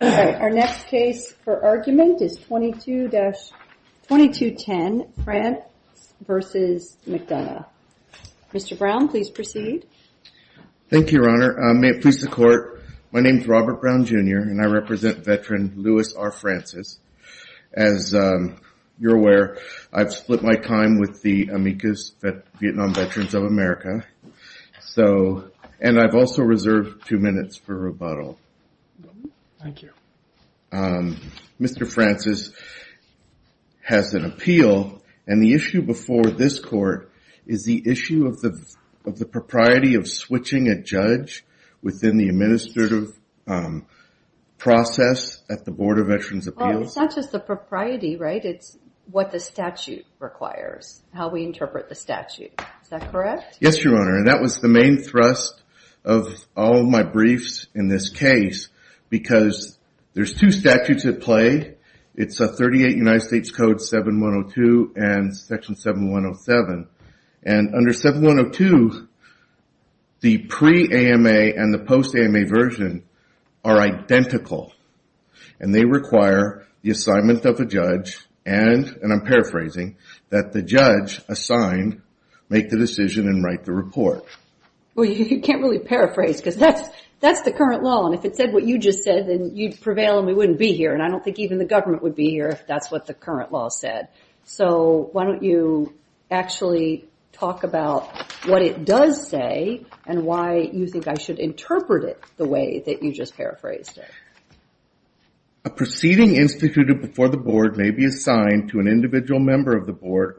Our next case for argument is 2210, Frantz v. McDonough. Mr. Brown, please proceed. Thank you, Your Honor. May it please the Court, my name is Robert Brown, Jr., and I represent veteran Louis R. Frantzis. As you're aware, I've split my time with the Amicus Vietnam Veterans of America, and I've also reserved two minutes for rebuttal. Mr. Frantzis has an appeal, and the issue before this Court is the issue of the propriety of switching a judge within the administrative process at the Board of Veterans' Appeals. Well, it's not just the propriety, right? It's what the statute requires, how we interpret the statute. Is that correct? Yes, Your Honor, and that was the main thrust of all of my briefs in this case, because there's two statutes at play. It's 38 United States Code 7102 and Section 7107. And under 7102, the pre-AMA and the post-AMA version are identical, and they require the assignment of a judge and, and I'm paraphrasing, that the judge assigned make the decision and write the report. Well, you can't really paraphrase, because that's the current law, and if it said what you just said, then you'd prevail and we wouldn't be here, and I don't think even the government would be here if that's what the current law said. So why don't you actually talk about what it does say and why you think I should interpret it the way that you just paraphrased it. A proceeding instituted before the Board may be assigned to an individual member of the Board.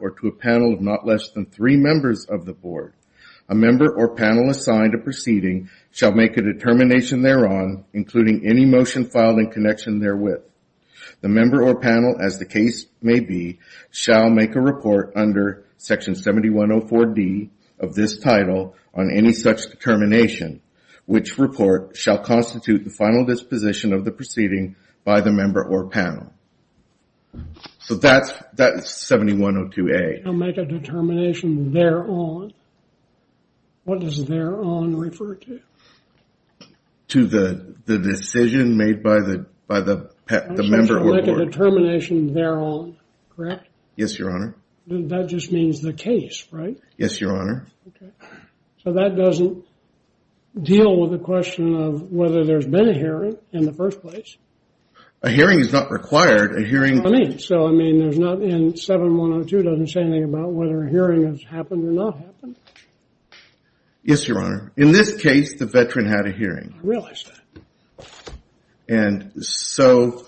A member or panel assigned a proceeding shall make a determination thereon, including any motion filed in connection therewith. The member or panel, as the case may be, shall make a report under Section 7104D of this title on any such determination, which report shall constitute the final disposition of the proceeding by the member or panel. So that's, that's 7102A. Shall make a determination thereon. What does thereon refer to? To the decision made by the, by the member or board. Shall make a determination thereon, correct? Yes, Your Honor. That just means the case, right? Yes, Your Honor. Okay. So that doesn't deal with the question of whether there's been a hearing in the first place. A hearing is not required. A hearing... So, I mean, there's not in 7102 doesn't say anything about whether a hearing has happened or not happened. Yes, Your Honor. In this case, the veteran had a hearing. I realize that. And so...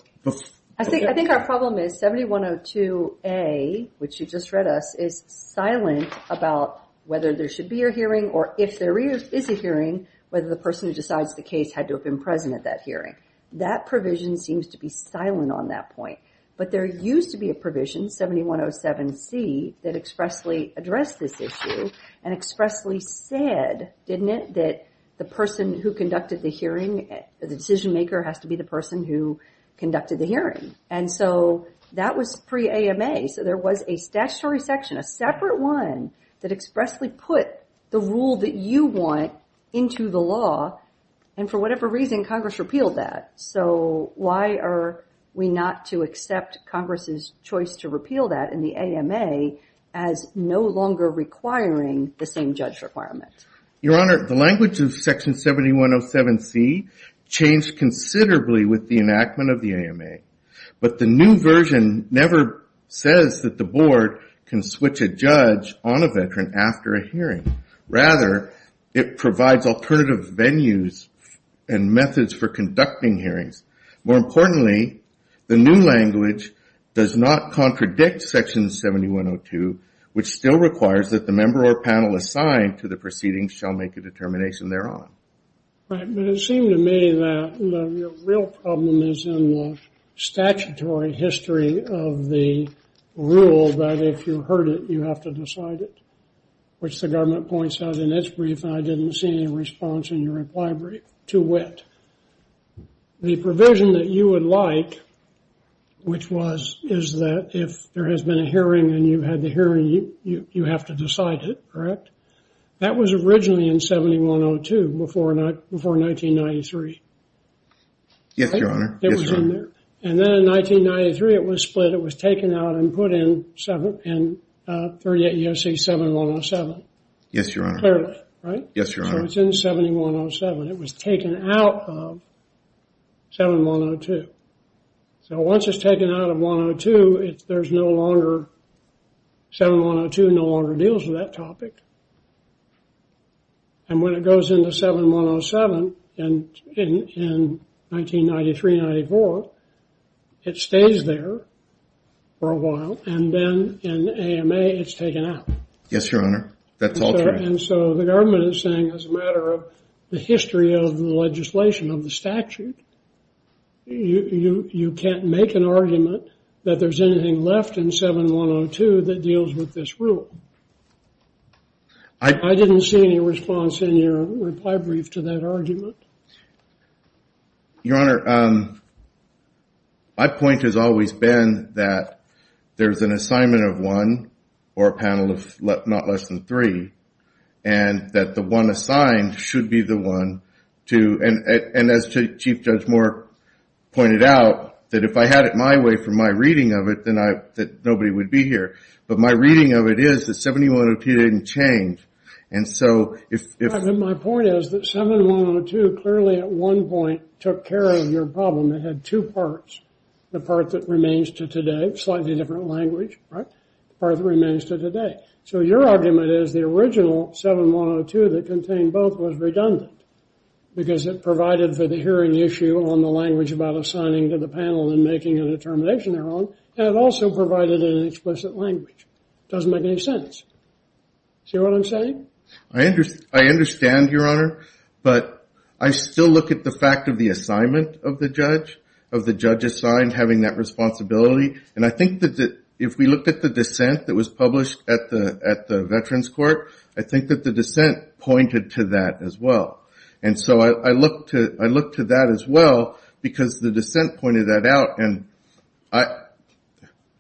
I think, I think our problem is 7102A, which you just read us, is silent about whether there should be a hearing or if there is a hearing, whether the person who decides the case had to have been present at that hearing. That provision seems to be silent on that point. But there used to be a provision, 7107C, that expressly addressed this issue and expressly said, didn't it, that the person who conducted the hearing, the decision maker has to be the person who conducted the hearing. And so that was pre-AMA. So there was a statutory section, a separate one, that expressly put the rule that you want into the law. And for whatever reason, Congress repealed that. So why are we not to accept Congress's choice to repeal that in the AMA as no longer requiring the same judge requirement? Your Honor, the language of section 7107C changed considerably with the enactment of the AMA. But the new version never says that the board can switch a judge on a veteran after a hearing. Rather, it provides alternative venues and methods for conducting hearings. More importantly, the new language does not contradict section 7102, which still requires that the member or panel assigned to the proceedings shall make a determination thereon. Right. But it seemed to me that the real problem is in the statutory history of the rule that if you heard it, you have to decide it, which the government points out in its brief, and I didn't see any response in your reply brief. Too wet. The provision that you would like, which was, is that if there has been a hearing and you had the hearing, you have to decide it, correct? That was originally in 7102 before 1993. Yes, Your Honor, yes, Your Honor. And then in 1993, it was split. It was taken out and put in 7, in 38 U.S.C. 7107. Yes, Your Honor. Clearly, right? Yes, Your Honor. So it's in 7107. It was taken out of 7102. So once it's taken out of 102, there's no longer, 7102 no longer deals with that topic. And when it goes into 7107 in 1993-94, it stays there for a while, and then in AMA, it's taken out. Yes, Your Honor. That's all true. And so the government is saying, as a matter of the history of the legislation of the statute, you can't make an argument that there's anything left in 7102 that deals with this rule. I didn't see any response in your reply brief to that argument. Your Honor, my point has always been that there's an assignment of one, or a panel of not less than three, and that the one assigned should be the one to, and as Chief Judge Moore pointed out, that if I had it my way from my reading of it, then nobody would be here. But my reading of it is that 7102 didn't change. And so if... My point is that 7102 clearly at one point took care of your problem. It had two parts. The part that remains to today, slightly different language, right? The part that remains to today. So your argument is the original 7102 that contained both was redundant, because it provided for the hearing issue on the language about assigning to the panel and making a determination of their own, and it also provided an explicit language. Doesn't make any sense. See what I'm saying? I understand, Your Honor. But I still look at the fact of the assignment of the judge, of the judge assigned having that responsibility. And I think that if we look at the dissent that was published at the Veterans Court, I think that the dissent pointed to that as well. And so I look to that as well, because the dissent pointed that out. And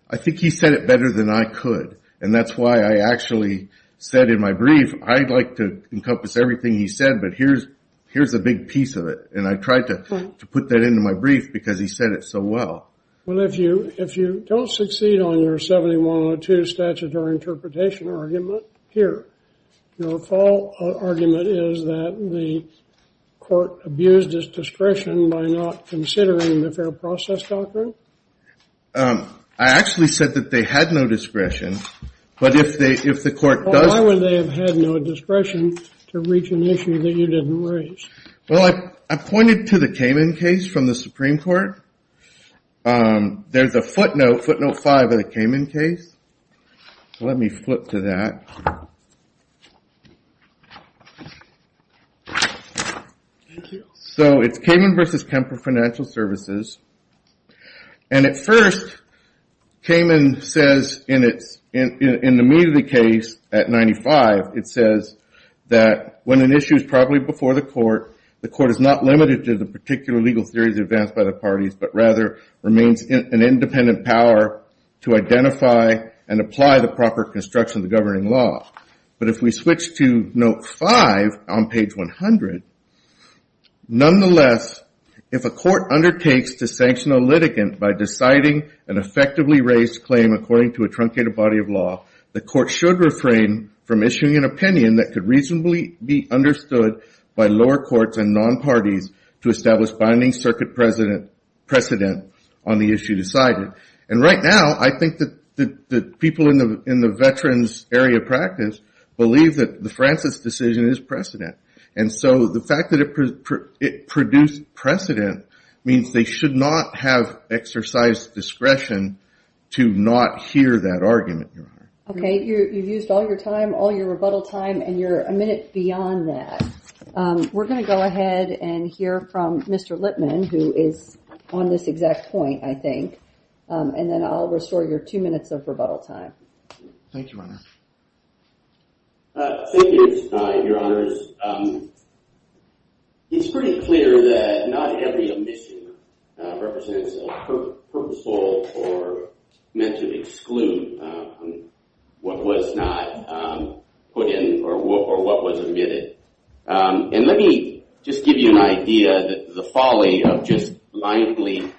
I think he said it better than I could. And that's why I actually said in my brief, I'd like to encompass everything he said, but here's a big piece of it. And I tried to put that into my brief, because he said it so well. Well, if you don't succeed on your 7102 statutory interpretation argument here, your full argument is that the court abused its discretion by not considering the fair process doctrine? I actually said that they had no discretion. But if the court does... Well, why would they have had no discretion to reach an issue that you didn't raise? Well, I pointed to the Kamen case from the Supreme Court. There's a footnote, footnote 5 of the Kamen case. Let me flip to that. Thank you. So it's Kamen v. Kemper Financial Services. And at first, Kamen says in the meat of the case at 95, it says that when an issue is properly before the court, the court is not limited to the particular legal theories advanced by the parties, but rather remains an independent power to identify and apply the proper construction of the governing law. But if we switch to note 5 on page 100, nonetheless, if a court undertakes to sanction a litigant by deciding an effectively raised claim according to a truncated body of law, the court should refrain from issuing an opinion that could reasonably be understood by lower courts and non-parties to establish binding circuit precedent on the issue decided. And right now, I think that people in the veterans area practice believe that the Francis decision is precedent. And so the fact that it produced precedent means they should not have exercise discretion to not hear that argument. Okay, you've used all your time, all your rebuttal time, and you're a minute beyond that. We're going to go ahead and hear from Mr. Lipman, who is on this exact point, I think, and then I'll restore your two minutes of rebuttal time. Thank you, Your Honors. It's pretty clear that not every omission represents a purposeful or meant to exclude what was not put in or what was omitted. And let me just give you an idea of the folly of just blindly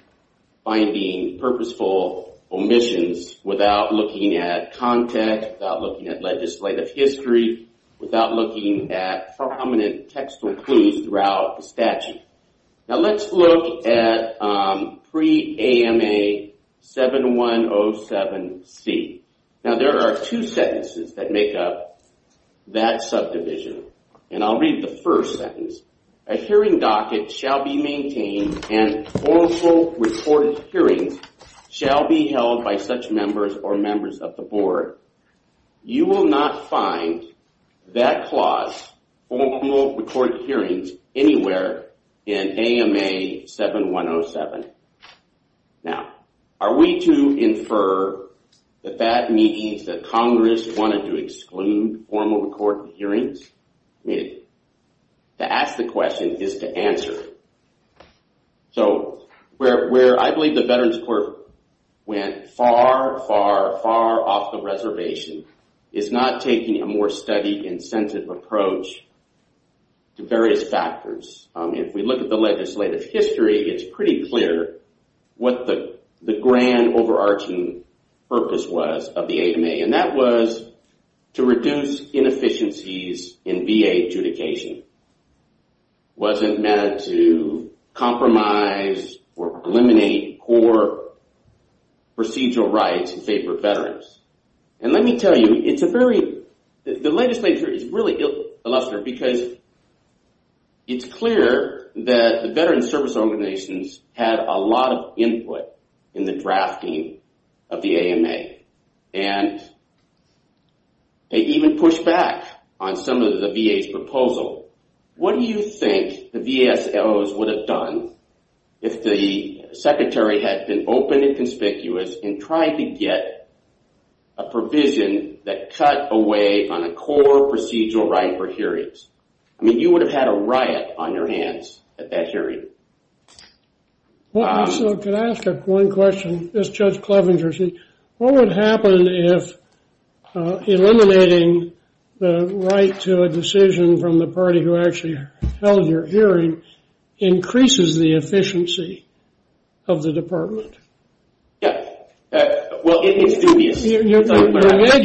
finding purposeful omissions without looking at context, without looking at legislative history, without looking at prominent textual clues throughout the statute. Now let's look at pre-AMA 7107C. Now there are two sentences that make up that subdivision. And I'll read the first sentence. A hearing docket shall be maintained and formal recorded hearings shall be held by such members or members of the board. You will not find that clause, formal recorded hearings, anywhere in AMA 7107. Now, are we to infer that that means that Congress wanted to exclude formal recorded hearings? I mean, to ask the question is to answer. So, where I believe the Veterans Court went far, far, far off the reservation is not taking a more study-incentive approach to various factors. If we look at the legislative history, it's pretty clear what the grand overarching purpose was of the AMA. And that was to reduce inefficiencies in VA adjudication. It wasn't meant to compromise or eliminate poor procedural rights in favor of Veterans. And let me tell you, it's a very the legislative history is really illustrative because it's clear that the Veterans Service Organizations had a lot of input in the drafting of the AMA. And they even pushed back on some of the VA's proposal. What do you think the VASOs would have done if the Secretary had been open and conspicuous in trying to get a provision that cut away on a core procedural right for hearings? I mean, you would have had a riot on your hands at that hearing. So, can I ask one question? This is Judge Clevenger. What would happen if eliminating the right to a decision from the party who actually held your hearing increases the efficiency of the department? You made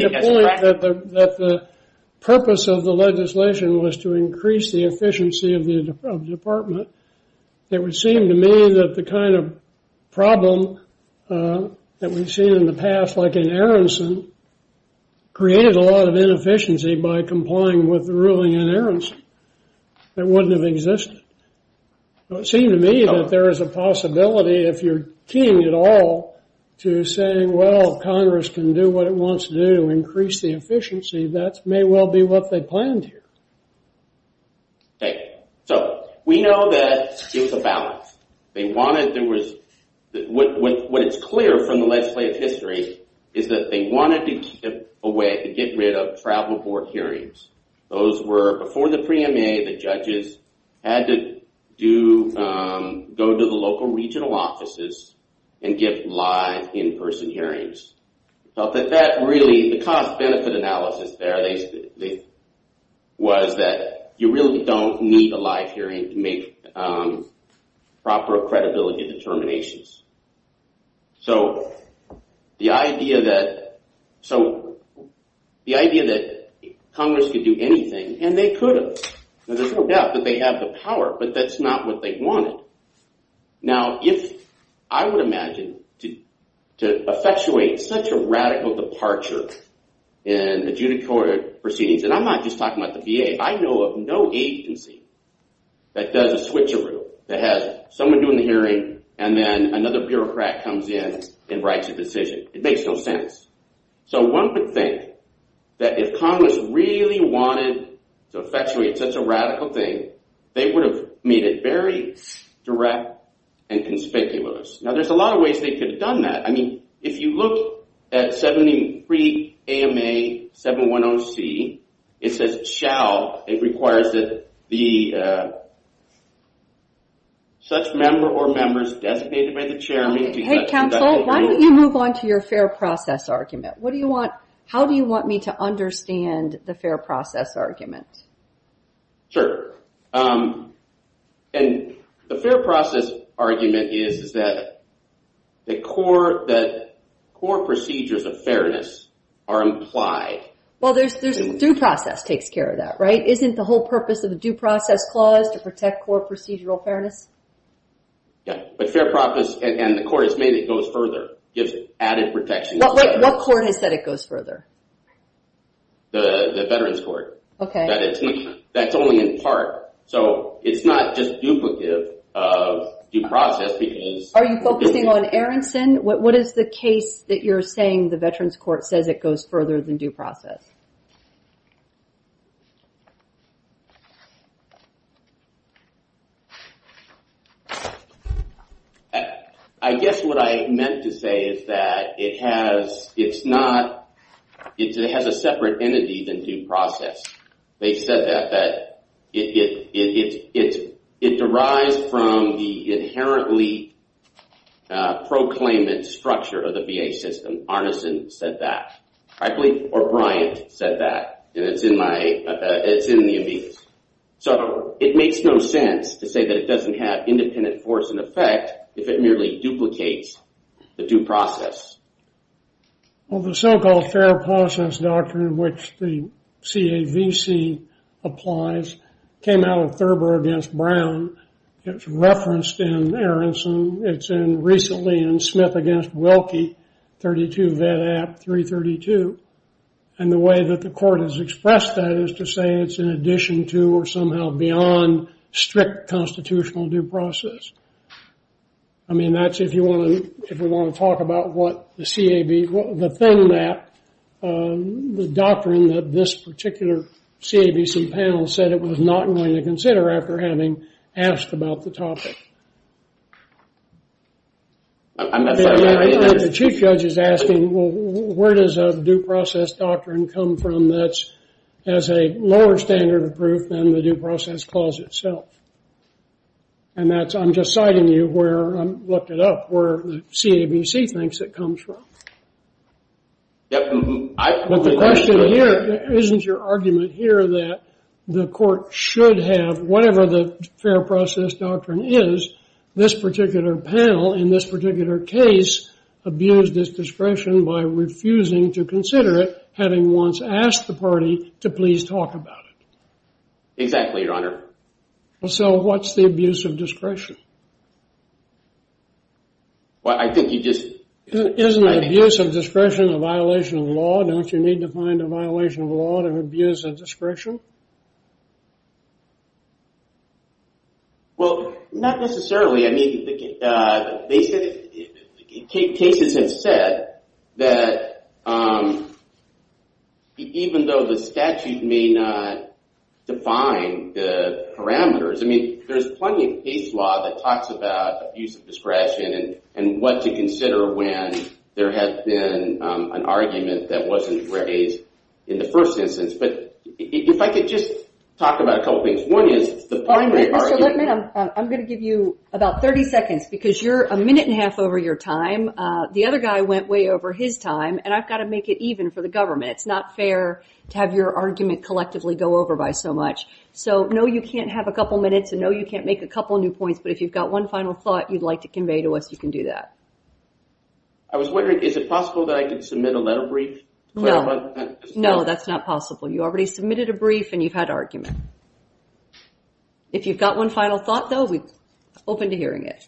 the point that the purpose of the legislation was to increase the efficiency of the department. It would seem to me that the kind of problem that we've seen in the past, like in Aronson, created a lot of inefficiency by complying with the ruling in Aronson that wouldn't have existed. It would seem to me that there is a possibility, if you're keen at all, to say, well, Congress can do what it wants to do to increase the efficiency. That may well be what they planned here. Okay. So, we know that it was a balance. What is clear from the legislative history is that they wanted to get rid of travel board hearings. Those were before the pre-MA, the judges had to go to the local regional offices and get live in-person hearings. The cost-benefit analysis there was that you really don't need a live hearing to make proper credibility determinations. The idea that Congress could do anything, and they could have. There's no doubt that they have the power, but that's not what they wanted. I would imagine to effectuate such a radical departure in adjudicatory proceedings, and I'm not just talking about the VA. I know of no agency that does a switcheroo that has someone doing the hearing, and then another bureaucrat comes in and writes a decision. It makes no sense. So, one would think that if Congress really wanted to effectuate such a radical thing, they would have made it very direct and conspicuous. Now, there's a lot of ways they could have done that. If you look at 73 AMA 710C, it says it shall, it requires that the such member or members designated by the chairman... Hey, counsel, why don't you move on to your fair process argument? How do you want me to understand the fair process argument? Sure. The fair process argument is that the core procedures of fairness are implied. Well, due process takes care of that, right? Isn't the whole purpose of the due process clause to protect core procedural fairness? Yeah, but fair process, and the court has made it go further. What court has said it goes further? The Veterans Court. That's only in part. So, it's not just duplicative of due process because... Are you focusing on Aronson? What is the case that you're saying it goes further than due process? I guess what I meant to say is that it has, it's not, it has a separate entity than due process. They said that it derives from the inherently proclaimant structure of the VA system. And Aronson said that. I believe O'Brien said that. And it's in my, it's in the amicus. So, it makes no sense to say that it doesn't have independent force and effect if it merely duplicates the due process. Well, the so-called fair process doctrine, which the CAVC applies, came out of Thurber against Brown. It's referenced in Aronson. It's in, recently, in Wilkie, 32 Vedap, 332. And the way that the court has expressed that is to say it's in addition to or somehow beyond strict constitutional due process. I mean, that's if you want to, if we want to talk about what the CAV, the thin map, the doctrine that this particular CAVC panel said it was not going to consider after having asked about the topic. The chief judge is asking, well, where does a due process doctrine come from that's as a lower standard of proof than the due process clause itself? And that's, I'm just citing you where, I looked it up, where the CAVC thinks it comes from. But the question here, isn't your argument here that the court should have, whatever the due process doctrine is, this particular panel in this particular case abused its discretion by refusing to consider it, having once asked the party to please talk about it? Exactly, your honor. So what's the abuse of discretion? Well, I think you just Isn't abuse of discretion a violation of the law? Don't you need to find a violation of the law to abuse of discretion? Well, not necessarily. I mean, cases have said that even though the statute may not define the parameters, I mean, there's plenty of case law that talks about abuse of discretion and what to consider when there has been an argument that wasn't raised in the first instance. But if I could just talk about a couple things. One is Mr. Lippman, I'm going to give you about 30 seconds because you're a minute and a half over your time. The other guy went way over his time and I've got to make it even for the government. It's not fair to have your argument collectively go over by so much. So no, you can't have a couple minutes and no you can't make a couple new points, but if you've got one final thought you'd like to convey to us, you can do that. I was wondering, is it possible that I could submit a letter brief? No, that's not possible. You already submitted a brief and you've had argument. If you've got one final thought though, we're open to hearing it.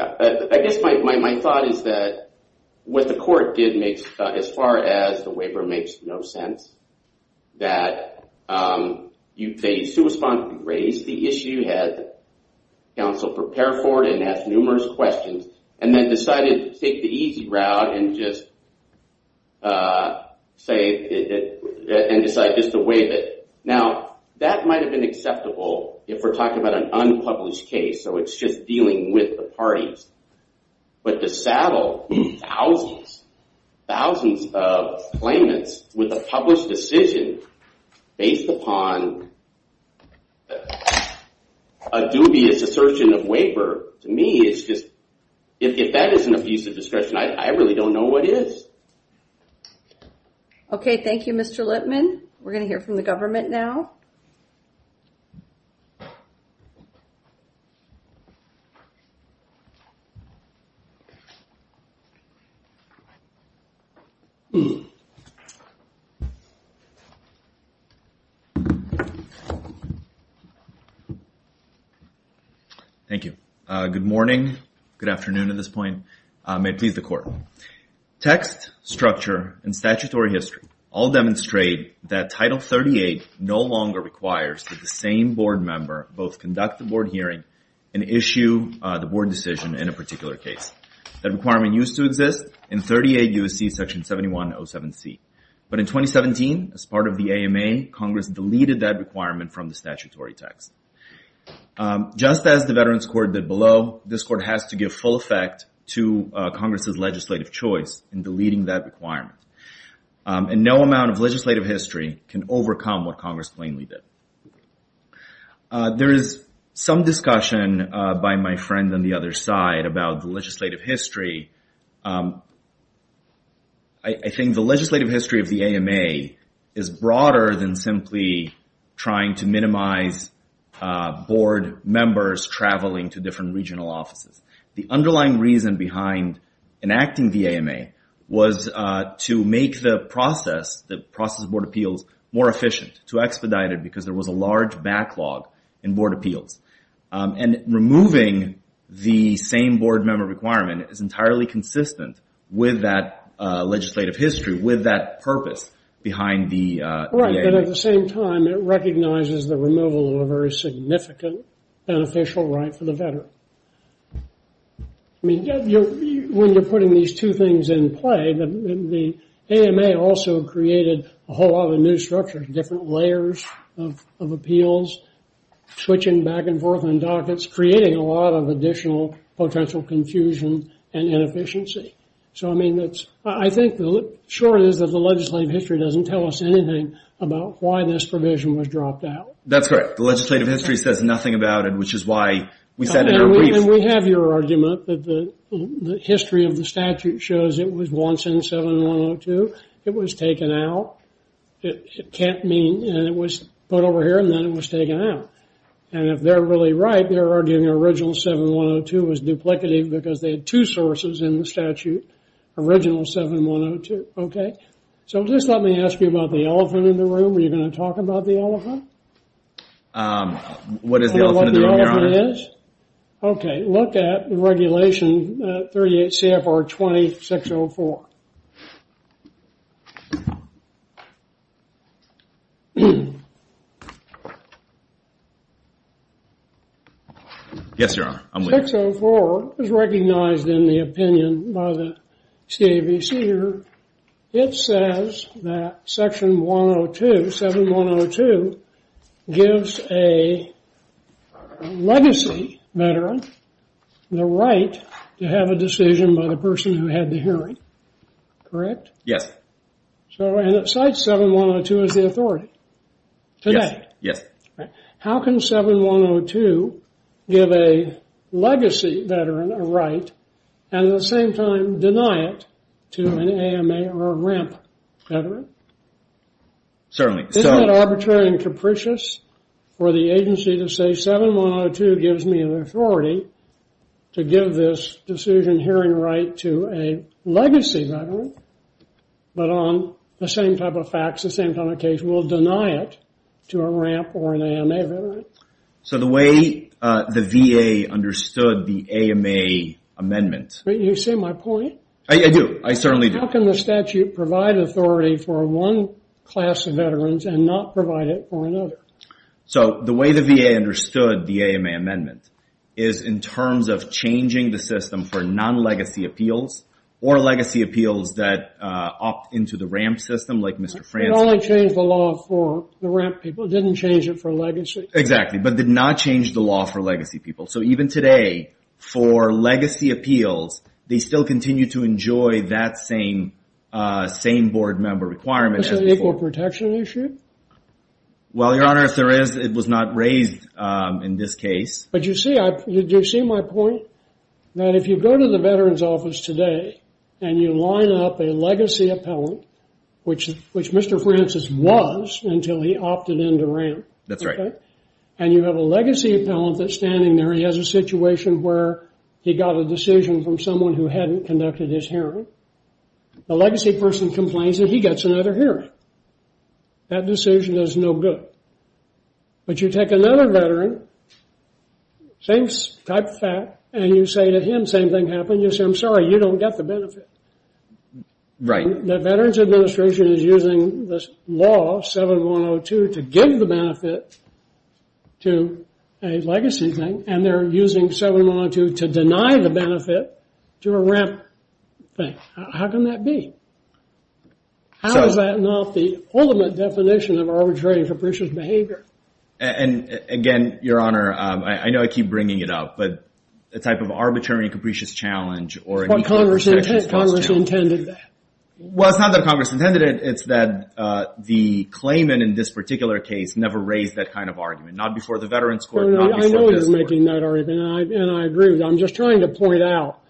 I guess my thought is that what the court did make, as far as the waiver makes no sense, that they raised the issue, had counsel prepare for it and asked numerous questions, and then decided to take the easy route and just say and decide just to waive it. Now, that might have been acceptable if we're talking about an unpublished case, so it's just dealing with the parties. But to saddle thousands of claimants with a published decision based upon a dubious assertion of waiver, to me it's just if that isn't a piece of discretion, I really don't know what is. Okay, thank you Mr. Lipman. We're going to hear from the government now. Thank you. Thank you. Good morning, good afternoon at this point. May it please the court. Text, structure, and statutory history all demonstrate that Title 38 no longer requires that the same board member both conduct the board hearing and issue the board decision in a particular case. That requirement used to exist in 38 U.S.C. Section 7107C. But in 2017, as part of the AMA, Congress deleted that requirement from the statutory text. Just as the Veterans Court did below, this court has to give full effect to Congress' legislative choice in deleting that requirement. And no amount of legislative history can overcome what Congress plainly did. There is some discussion by my friend on the other side about the legislative history. I think the legislative history of the AMA is broader than simply trying to minimize board members traveling to different regional offices. The underlying reason behind enacting the AMA was to make the process of board appeals more efficient, to expedite it because there was a large backlog in board appeals. And removing the same board member requirement is entirely consistent with that legislative history, with that purpose behind the AMA. Right, but at the same time, it recognizes the removal of a very significant beneficial right for the veteran. When you're putting these two things in play, the AMA also created a whole lot of new structures, different layers of appeals, switching back and forth on dockets, creating a lot of additional potential confusion and inefficiency. So, I mean, I think the short is that the legislative history doesn't tell us anything about why this provision was dropped out. That's right. The legislative history says nothing about it, which is why we said in our brief... And we have your argument that the history of the statute shows it was once in 7102. It was taken out. It can't mean... And it was put over here and then it was taken out. And if they're really right, they're arguing original 7102 was duplicative because they had two sources in the statute, original 7102. Okay? So, just let me ask you about the elephant in the room. Are you going to talk about the elephant? What is the elephant in the room, Your Honor? Okay, look at Regulation 38 CFR 20-604. Yes, Your Honor. 604 is recognized in the opinion by the CAVC here. It says that Section 102, 7102 gives a legacy veteran the right to have a decision by the person who had the hearing. Correct? Yes. And it cites 7102 as the authority. Yes. How can 7102 give a legacy veteran a right and at the same time deny it to an AMA or a RIMP veteran? Certainly. Isn't it arbitrary and capricious for the agency to say 7102 gives me an authority to give this decision hearing right to a legacy veteran but on the same type of facts, the same type of case, will deny it to a RIMP or an AMA veteran? So the way the VA understood the AMA amendment You see my point? I do. I certainly do. How can the statute provide authority for one class of veterans and not provide it for another? So the way the VA understood the AMA amendment is in terms of changing the system for non-legacy appeals or legacy appeals that opt into the RIMP system like Mr. Francis. It only changed the law for the RIMP people. It didn't change it for legacy. Exactly. But did not change the law for legacy people. So even today for legacy appeals, they still continue to enjoy that same board member requirement. Is this an equal protection issue? Well, Your Honor, if there is, it was not raised in this case. But you see my point? That if you go to the veteran's office today and you line up a legacy appellant, which Mr. Francis was until he opted into RIMP. That's right. And you have a legacy appellant that's standing there. He has a situation where he got a decision from someone who hadn't conducted his hearing. The legacy person complains that he gets another hearing. That decision is no good. But you take another veteran, same type of fact, and you say to him, same thing happened. You say, I'm sorry, you don't get the benefit. Right. The Veterans Administration is using this law, 7102, to give the benefit to a legacy thing. And they're using 7102 to deny the benefit to a RIMP thing. How can that be? How is that not the ultimate definition of arbitrary and capricious behavior? And again, Your Honor, I know I keep bringing it up, but the type of arbitrary and capricious challenge or equal protection issue. That's what Congress intended. Well, it's not that Congress intended it. It's that the claimant in this particular case never raised that kind of argument. Not before the Veterans Court. I know you're making that argument, and I agree with you. I'm just trying to point out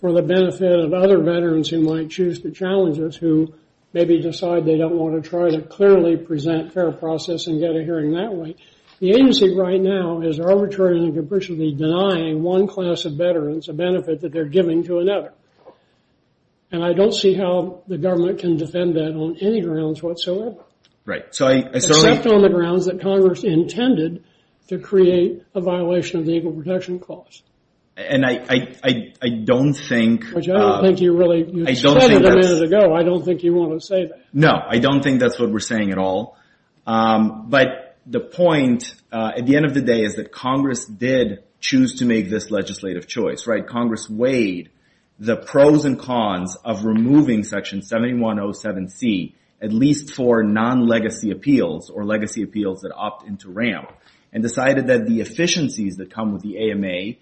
for the benefit of other veterans who might choose to challenge us, who maybe decide they don't want to try to clearly present fair process and get a hearing that way. The agency right now is arbitrary and capriciously denying one class of veterans a benefit that they're giving to another. And I don't see how the government can defend that on any grounds whatsoever. Except on the grounds that Congress intended to create a violation of the Equal Protection Clause. And I don't think... You said it a minute ago, I don't think you want to say that. No, I don't think that's what we're saying at all. But the point at the end of the day is that Congress did choose to make this legislative choice. Congress weighed the pros and cons of removing Section 7107C, at least for non-legacy appeals or legacy appeals that opt into RAMP, and decided that the legislative choice would be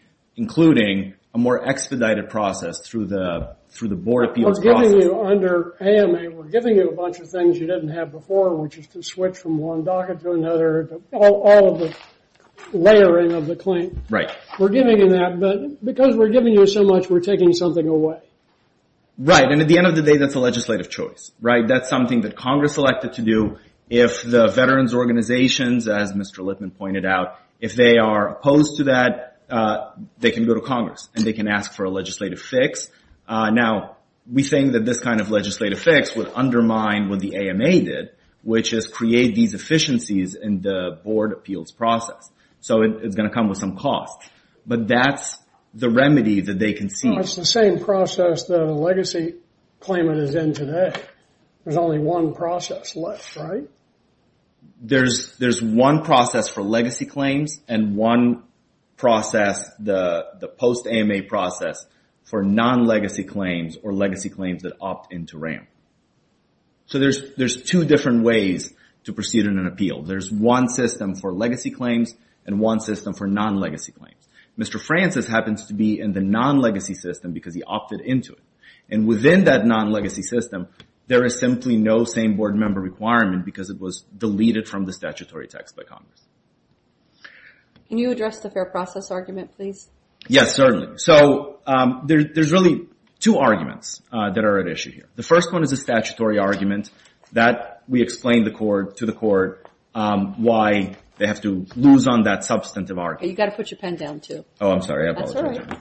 a more expedited process through the Board of Appeals process. We're giving you a bunch of things you didn't have before, which is to switch from one docket to another. All of the layering of the claim. Because we're giving you so much, we're taking something away. Right, and at the end of the day, that's a legislative choice. That's something that Congress elected to do. If the veterans organizations, as Mr. Lippman pointed out, if they are opposed to that, they can go to Congress. And they can ask for a legislative fix. Now, we think that this kind of legislative fix would undermine what the AMA did, which is create these efficiencies in the Board of Appeals process. So it's going to come with some costs. But that's the remedy that they can see. It's the same process that a legacy claimant is in today. There's only one process left, right? There's one process for legacy claims and one process, the post-AMA process, for non-legacy claims or legacy claims that opt into RAMP. So there's two different ways to proceed in an appeal. There's one system for legacy claims and one system for non-legacy claims. Mr. Francis happens to be in the non-legacy system because he opted into it. And within that non-legacy system, there is simply no same board member requirement because it was deleted from the statutory text by Congress. Can you address the fair process argument, please? Yes, certainly. So there's really two arguments that are at issue here. The first one is a statutory argument that we explain to the court why they have to lose on that substantive argument. You've got to put your pen down, too. Oh, I'm sorry. I apologize.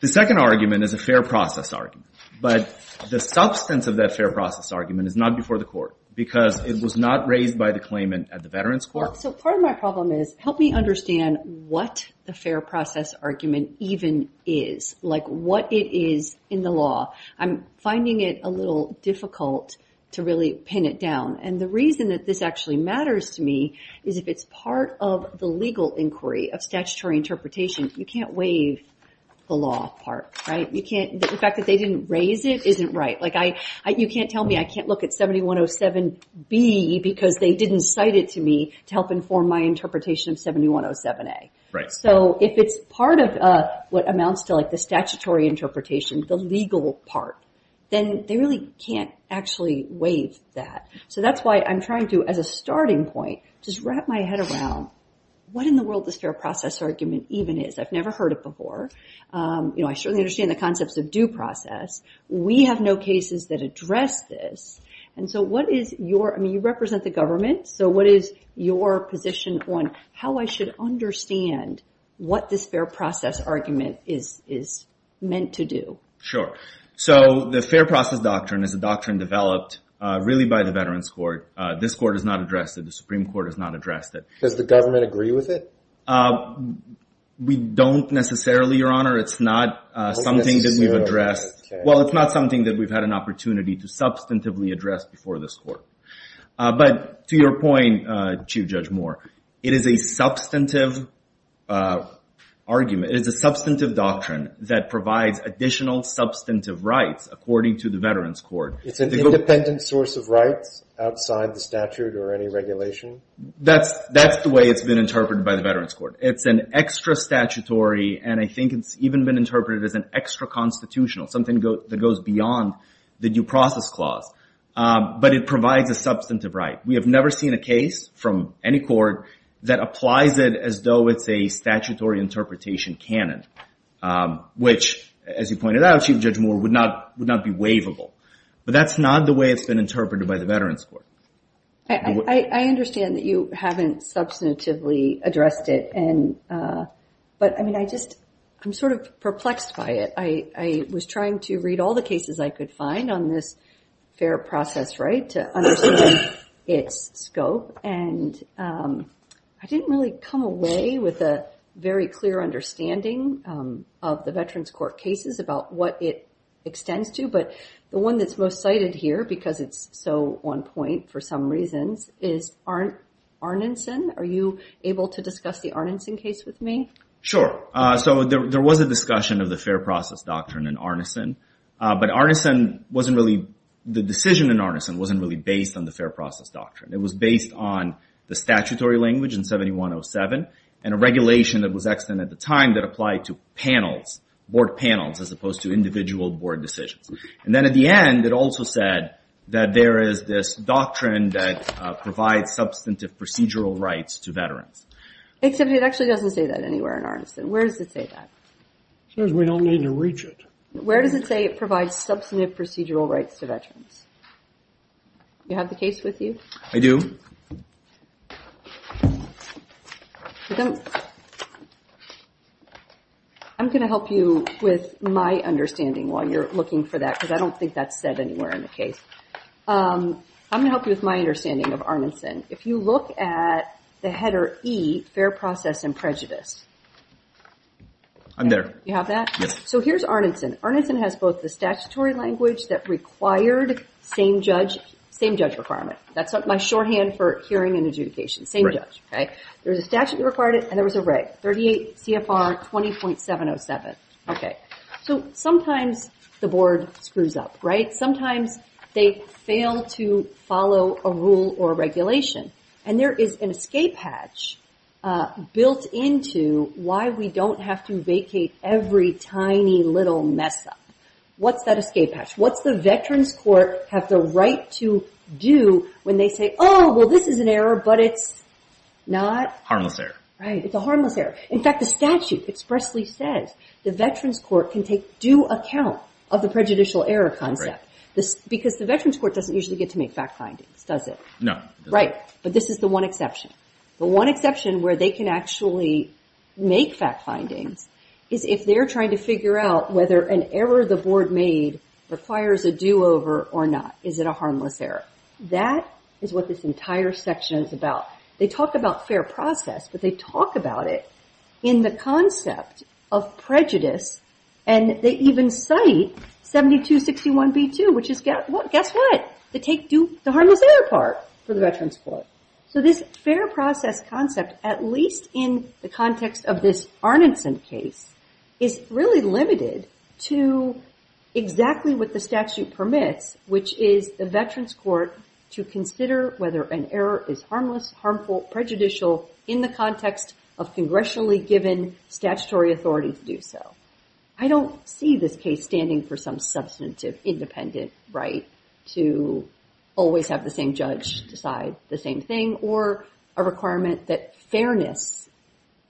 The second argument is a fair process argument. But the substance of that fair process argument is not before the court because it was not raised by the claimant at the Veterans Court. So part of my problem is help me understand what the fair process argument even is, like what it is in the law. I'm finding it a little difficult to really pin it down. And the reason that this actually matters to me is if it's part of the legal inquiry of statutory interpretation, you can't waive the law part, right? The fact that they didn't raise it isn't right. You can't tell me I can't look at 7107B because they didn't cite it to me to help inform my interpretation of 7107A. So if it's part of what amounts to the statutory interpretation, the legal part, then they really can't actually waive that. So that's why I'm trying to, as a starting point, just wrap my head around what in the world this fair process argument even is. I've never heard it before. I certainly understand the concepts of due process. We have no cases that address this. And so what is your, I mean you represent the government, so what is your position on how I should understand what this fair process argument is meant to do? Sure. So the fair process doctrine is a doctrine developed really by the Veterans Court. This court has not addressed it. The Supreme Court has not addressed it. Does the government agree with it? We don't necessarily, Your Honor. It's not something that we've addressed. Well, it's not something that we've had an opportunity to substantively address before this court. But to your point, Chief Judge Moore, it is a substantive argument, it is a substantive doctrine that provides additional substantive rights according to the Veterans Court. It's an independent source of rights outside the statute or any regulation? That's the way it's been interpreted by the Veterans Court. It's an extra statutory and I think it's even been interpreted as an extra constitutional, something that goes beyond the due process clause. But it provides a substantive right. We have never seen a case from any court that applies it as though it's a statutory interpretation canon. Which, as you pointed out, Chief Judge Moore, would not be waivable. But that's not the way it's been interpreted by the Veterans Court. I understand that you haven't substantively addressed it. But I mean, I just, I'm sort of perplexed by it. I was trying to read all the cases I could find on this fair process right to understand its scope. And I didn't really come away with a very clear understanding of the Veterans Court cases about what it extends to. But the one that's most cited here, because it's so on point for some reasons, is Arneson. Are you able to discuss the Arneson case with me? Sure. So there was a discussion of the fair process doctrine in Arneson. But Arneson wasn't really, the decision in Arneson wasn't really based on the fair process doctrine. It was based on the statutory language in 7107 and a regulation that was extended at the time that applied to panels, board panels, as opposed to individual board decisions. And then at the end, it also said that there is this doctrine that provides substantive procedural rights to veterans. Except it actually doesn't say that anywhere in Arneson. Where does it say that? It says we don't need to reach it. Where does it say it provides substantive procedural rights to veterans? Do you have the case with you? I do. I'm going to help you with my understanding while you're looking for that, because I don't think that's said anywhere in the case. I'm going to help you with my understanding of Arneson. If you look at the header E, fair process and prejudice. I'm there. You have that? Yes. So here's Arneson. Arneson has both the statutory language that required same judge requirement. That's my shorthand for hearing and adjudication. Same judge. There was a statute that required it, and there was a reg. 38 CFR 20.707. So sometimes the board screws up. Sometimes they fail to follow a rule or regulation. And there is an escape hatch built into why we don't have to vacate every tiny little mess up. What's that escape hatch? What's the veterans court have the right to do when they say, oh, well this is an error, but it's not? Harmless error. Right. It's a harmless error. In fact, the statute expressly says the veterans court can take due account of the prejudicial error concept. Because the veterans court doesn't usually get to make fact findings, does it? No. Right. But this is the one exception. The one exception where they can actually make fact findings is if they're trying to figure out whether an error the board made requires a do-over or not. Is it a harmless error? That is what this entire section is about. They talk about fair process, but they talk about it in the concept of prejudice, and they even cite 7261b2, which is, guess what? They take the harmless error part for the veterans court. So this fair process concept, at least in the context of this Arnidson case, is really limited to exactly what the statute permits, which is the veterans court to consider whether an error is harmless, harmful, prejudicial in the context of congressionally given statutory authority to do so. I don't see this case standing for some substantive independent right to always have the same judge decide the same thing or a requirement that fairness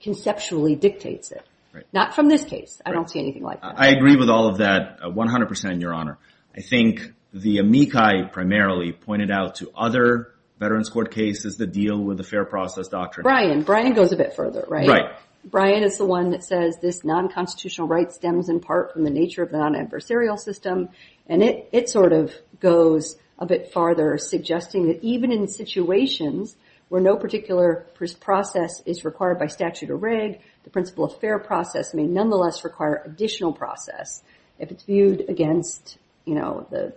conceptually dictates it. Not from this case. I don't see anything like that. I agree with all of that 100 percent, Your Honor. I think the amici primarily pointed out to other veterans court cases the deal with the fair process doctrine. Brian. Brian goes a bit further, right? Right. Brian is the one that says this non-constitutional right stems in part from the nature of the non-adversarial system, and it sort of goes a bit farther suggesting that even in situations where no particular process is required by statute or rig, the principle of fair process may nonetheless require additional process if it's viewed against the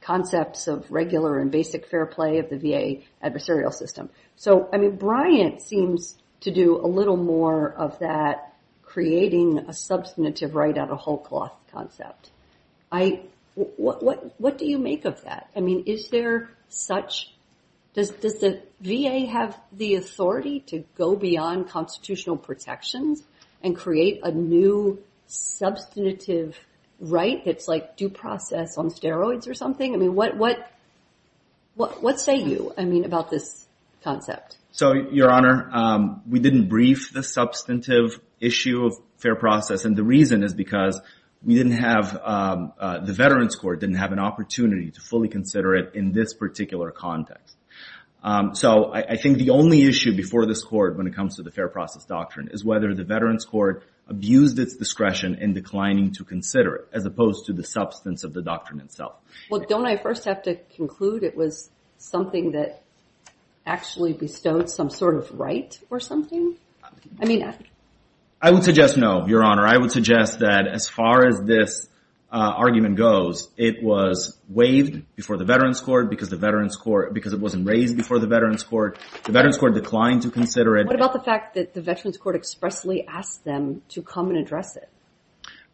concepts of regular and basic fair play of the VA adversarial system. So, I mean, Brian seems to do a little more of that creating a substantive right out of whole cloth concept. What do you make of that? I mean, is there such does the VA have the authority to go beyond constitutional protections and create a new substantive right that's like due process on steroids or something? What say you about this concept? So, Your Honor, we didn't brief the substantive issue of fair process, and the reason is because we didn't have the veterans court didn't have an opportunity to fully consider it in this particular context. So, I think the only issue before this court when it comes to the fair process doctrine is whether the veterans court abused its discretion in declining to consider it as opposed to the substance of the doctrine itself. Well, don't I first have to conclude it was something that actually bestowed some sort of right or something? I mean, I would suggest no, Your Honor. I would suggest that as far as this argument goes, it was waived before the veterans court because it wasn't raised before the veterans court. The veterans court declined to consider it. What about the fact that the veterans court expressly asked them to come and address it?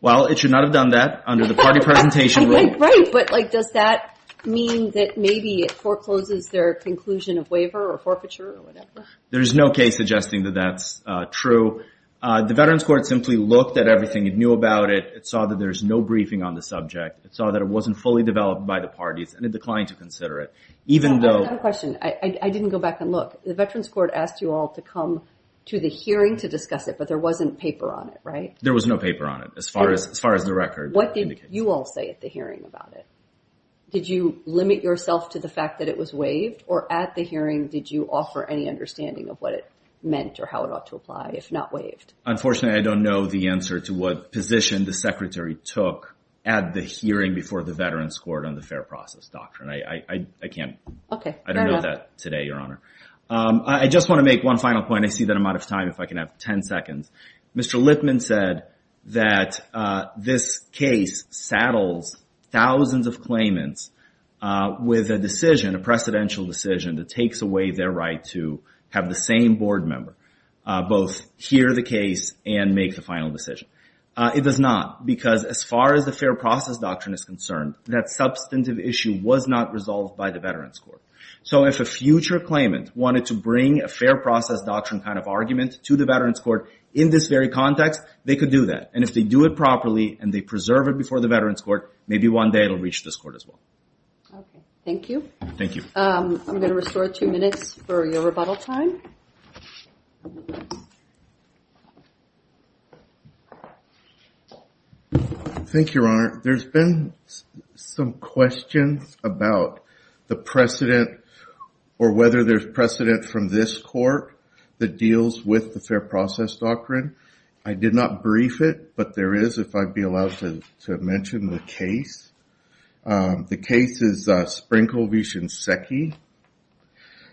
Well, it should not have done that under the party presentation rule. Right, but like does that mean that maybe it forecloses their conclusion of waiver or forfeiture or whatever? There's no case suggesting that that's true. The veterans court simply looked at everything. It knew about it. It saw that there's no briefing on the subject. It saw that it wasn't fully developed by the parties, and it declined to consider it even though... I have a question. I didn't go back and look. The veterans court asked you all to come to the hearing to discuss it, but there wasn't paper on it, right? There was no paper on it as far as the record indicates. What did you all say at the hearing about it? Did you limit yourself to the fact that it was waived or at the hearing did you offer any understanding of what it meant or how it ought to apply if not waived? Unfortunately, I don't know the answer to what position the secretary took at the hearing before the veterans court on the fair process doctrine. I can't... I don't know that today, Your Honor. I just want to make one final point. I see that I'm out of time. If I can have 10 seconds. Mr. Lipman said that this case saddles thousands of claimants with a decision, a precedential decision that takes away their right to have the same board member both hear the case and make the final decision. It does not because as far as the fair process doctrine is concerned, that substantive issue was not resolved by the veterans court. So if a future claimant wanted to bring a fair process doctrine kind of argument to the veterans court in this very context, they could do that and if they do it properly and they preserve it before the veterans court, maybe one day it will reach this court as well. Okay. Thank you. Thank you. I'm going to restore two minutes for your rebuttal time. Thank you, Your Honor. There's been some questions about the precedent or whether there's precedent from this court that deals with the fair process doctrine. I did not brief it, but there is if I'd be allowed to mention the case. The case is Sprinkel v. Shinseki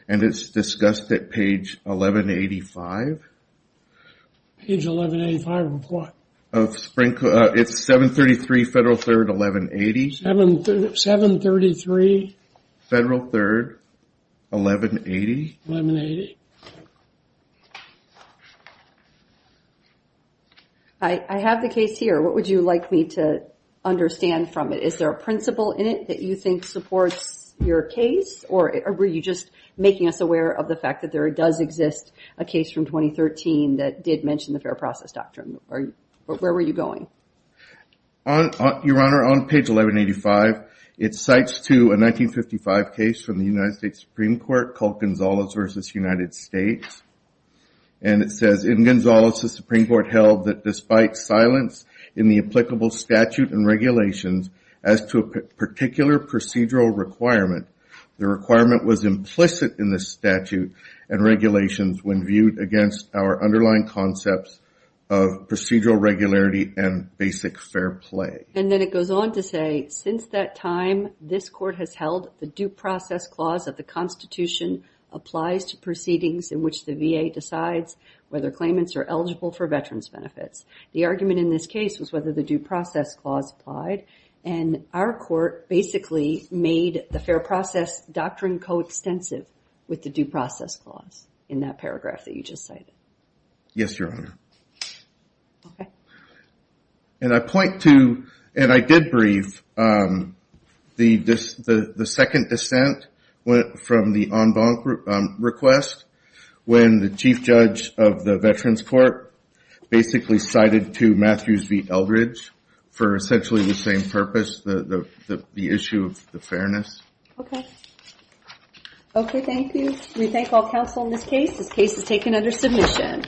and it's discussed at page 1185. Page 1185 of what? It's 733 Federal Third 1180. 733 Federal Third 1180. I have the case here. What would you like me to understand from it? Is there a principle in it that you think supports your case or were you just making us aware of the fact that there does exist a case from 2013 that did mention the fair process doctrine? Where were you going? Your Honor, on page 1185, it cites to a 1955 case from the United States Supreme Court called Gonzales v. United States. And it says, In Gonzales, the Supreme Court held that despite silence in the applicable statute and regulations as to a particular procedural requirement, the requirement was implicit in the statute and regulations when viewed against our underlying concepts of procedural regularity and basic fair play. And then it goes on to say, Since that time, this court has held the due process clause of the Constitution applies to proceedings in which the VA decides whether claimants are eligible for veterans benefits. The argument in this case was whether the due process clause applied and our court basically made the fair process doctrine coextensive with the due process clause in that paragraph that you just cited. Yes, Your Honor. And I point to, and I did brief the second dissent from the en banc request when the Chief Judge of the Veterans Court basically cited to Matthews v. Eldridge for essentially the same purpose, the issue of the fairness. Okay, thank you. We thank all for your submission.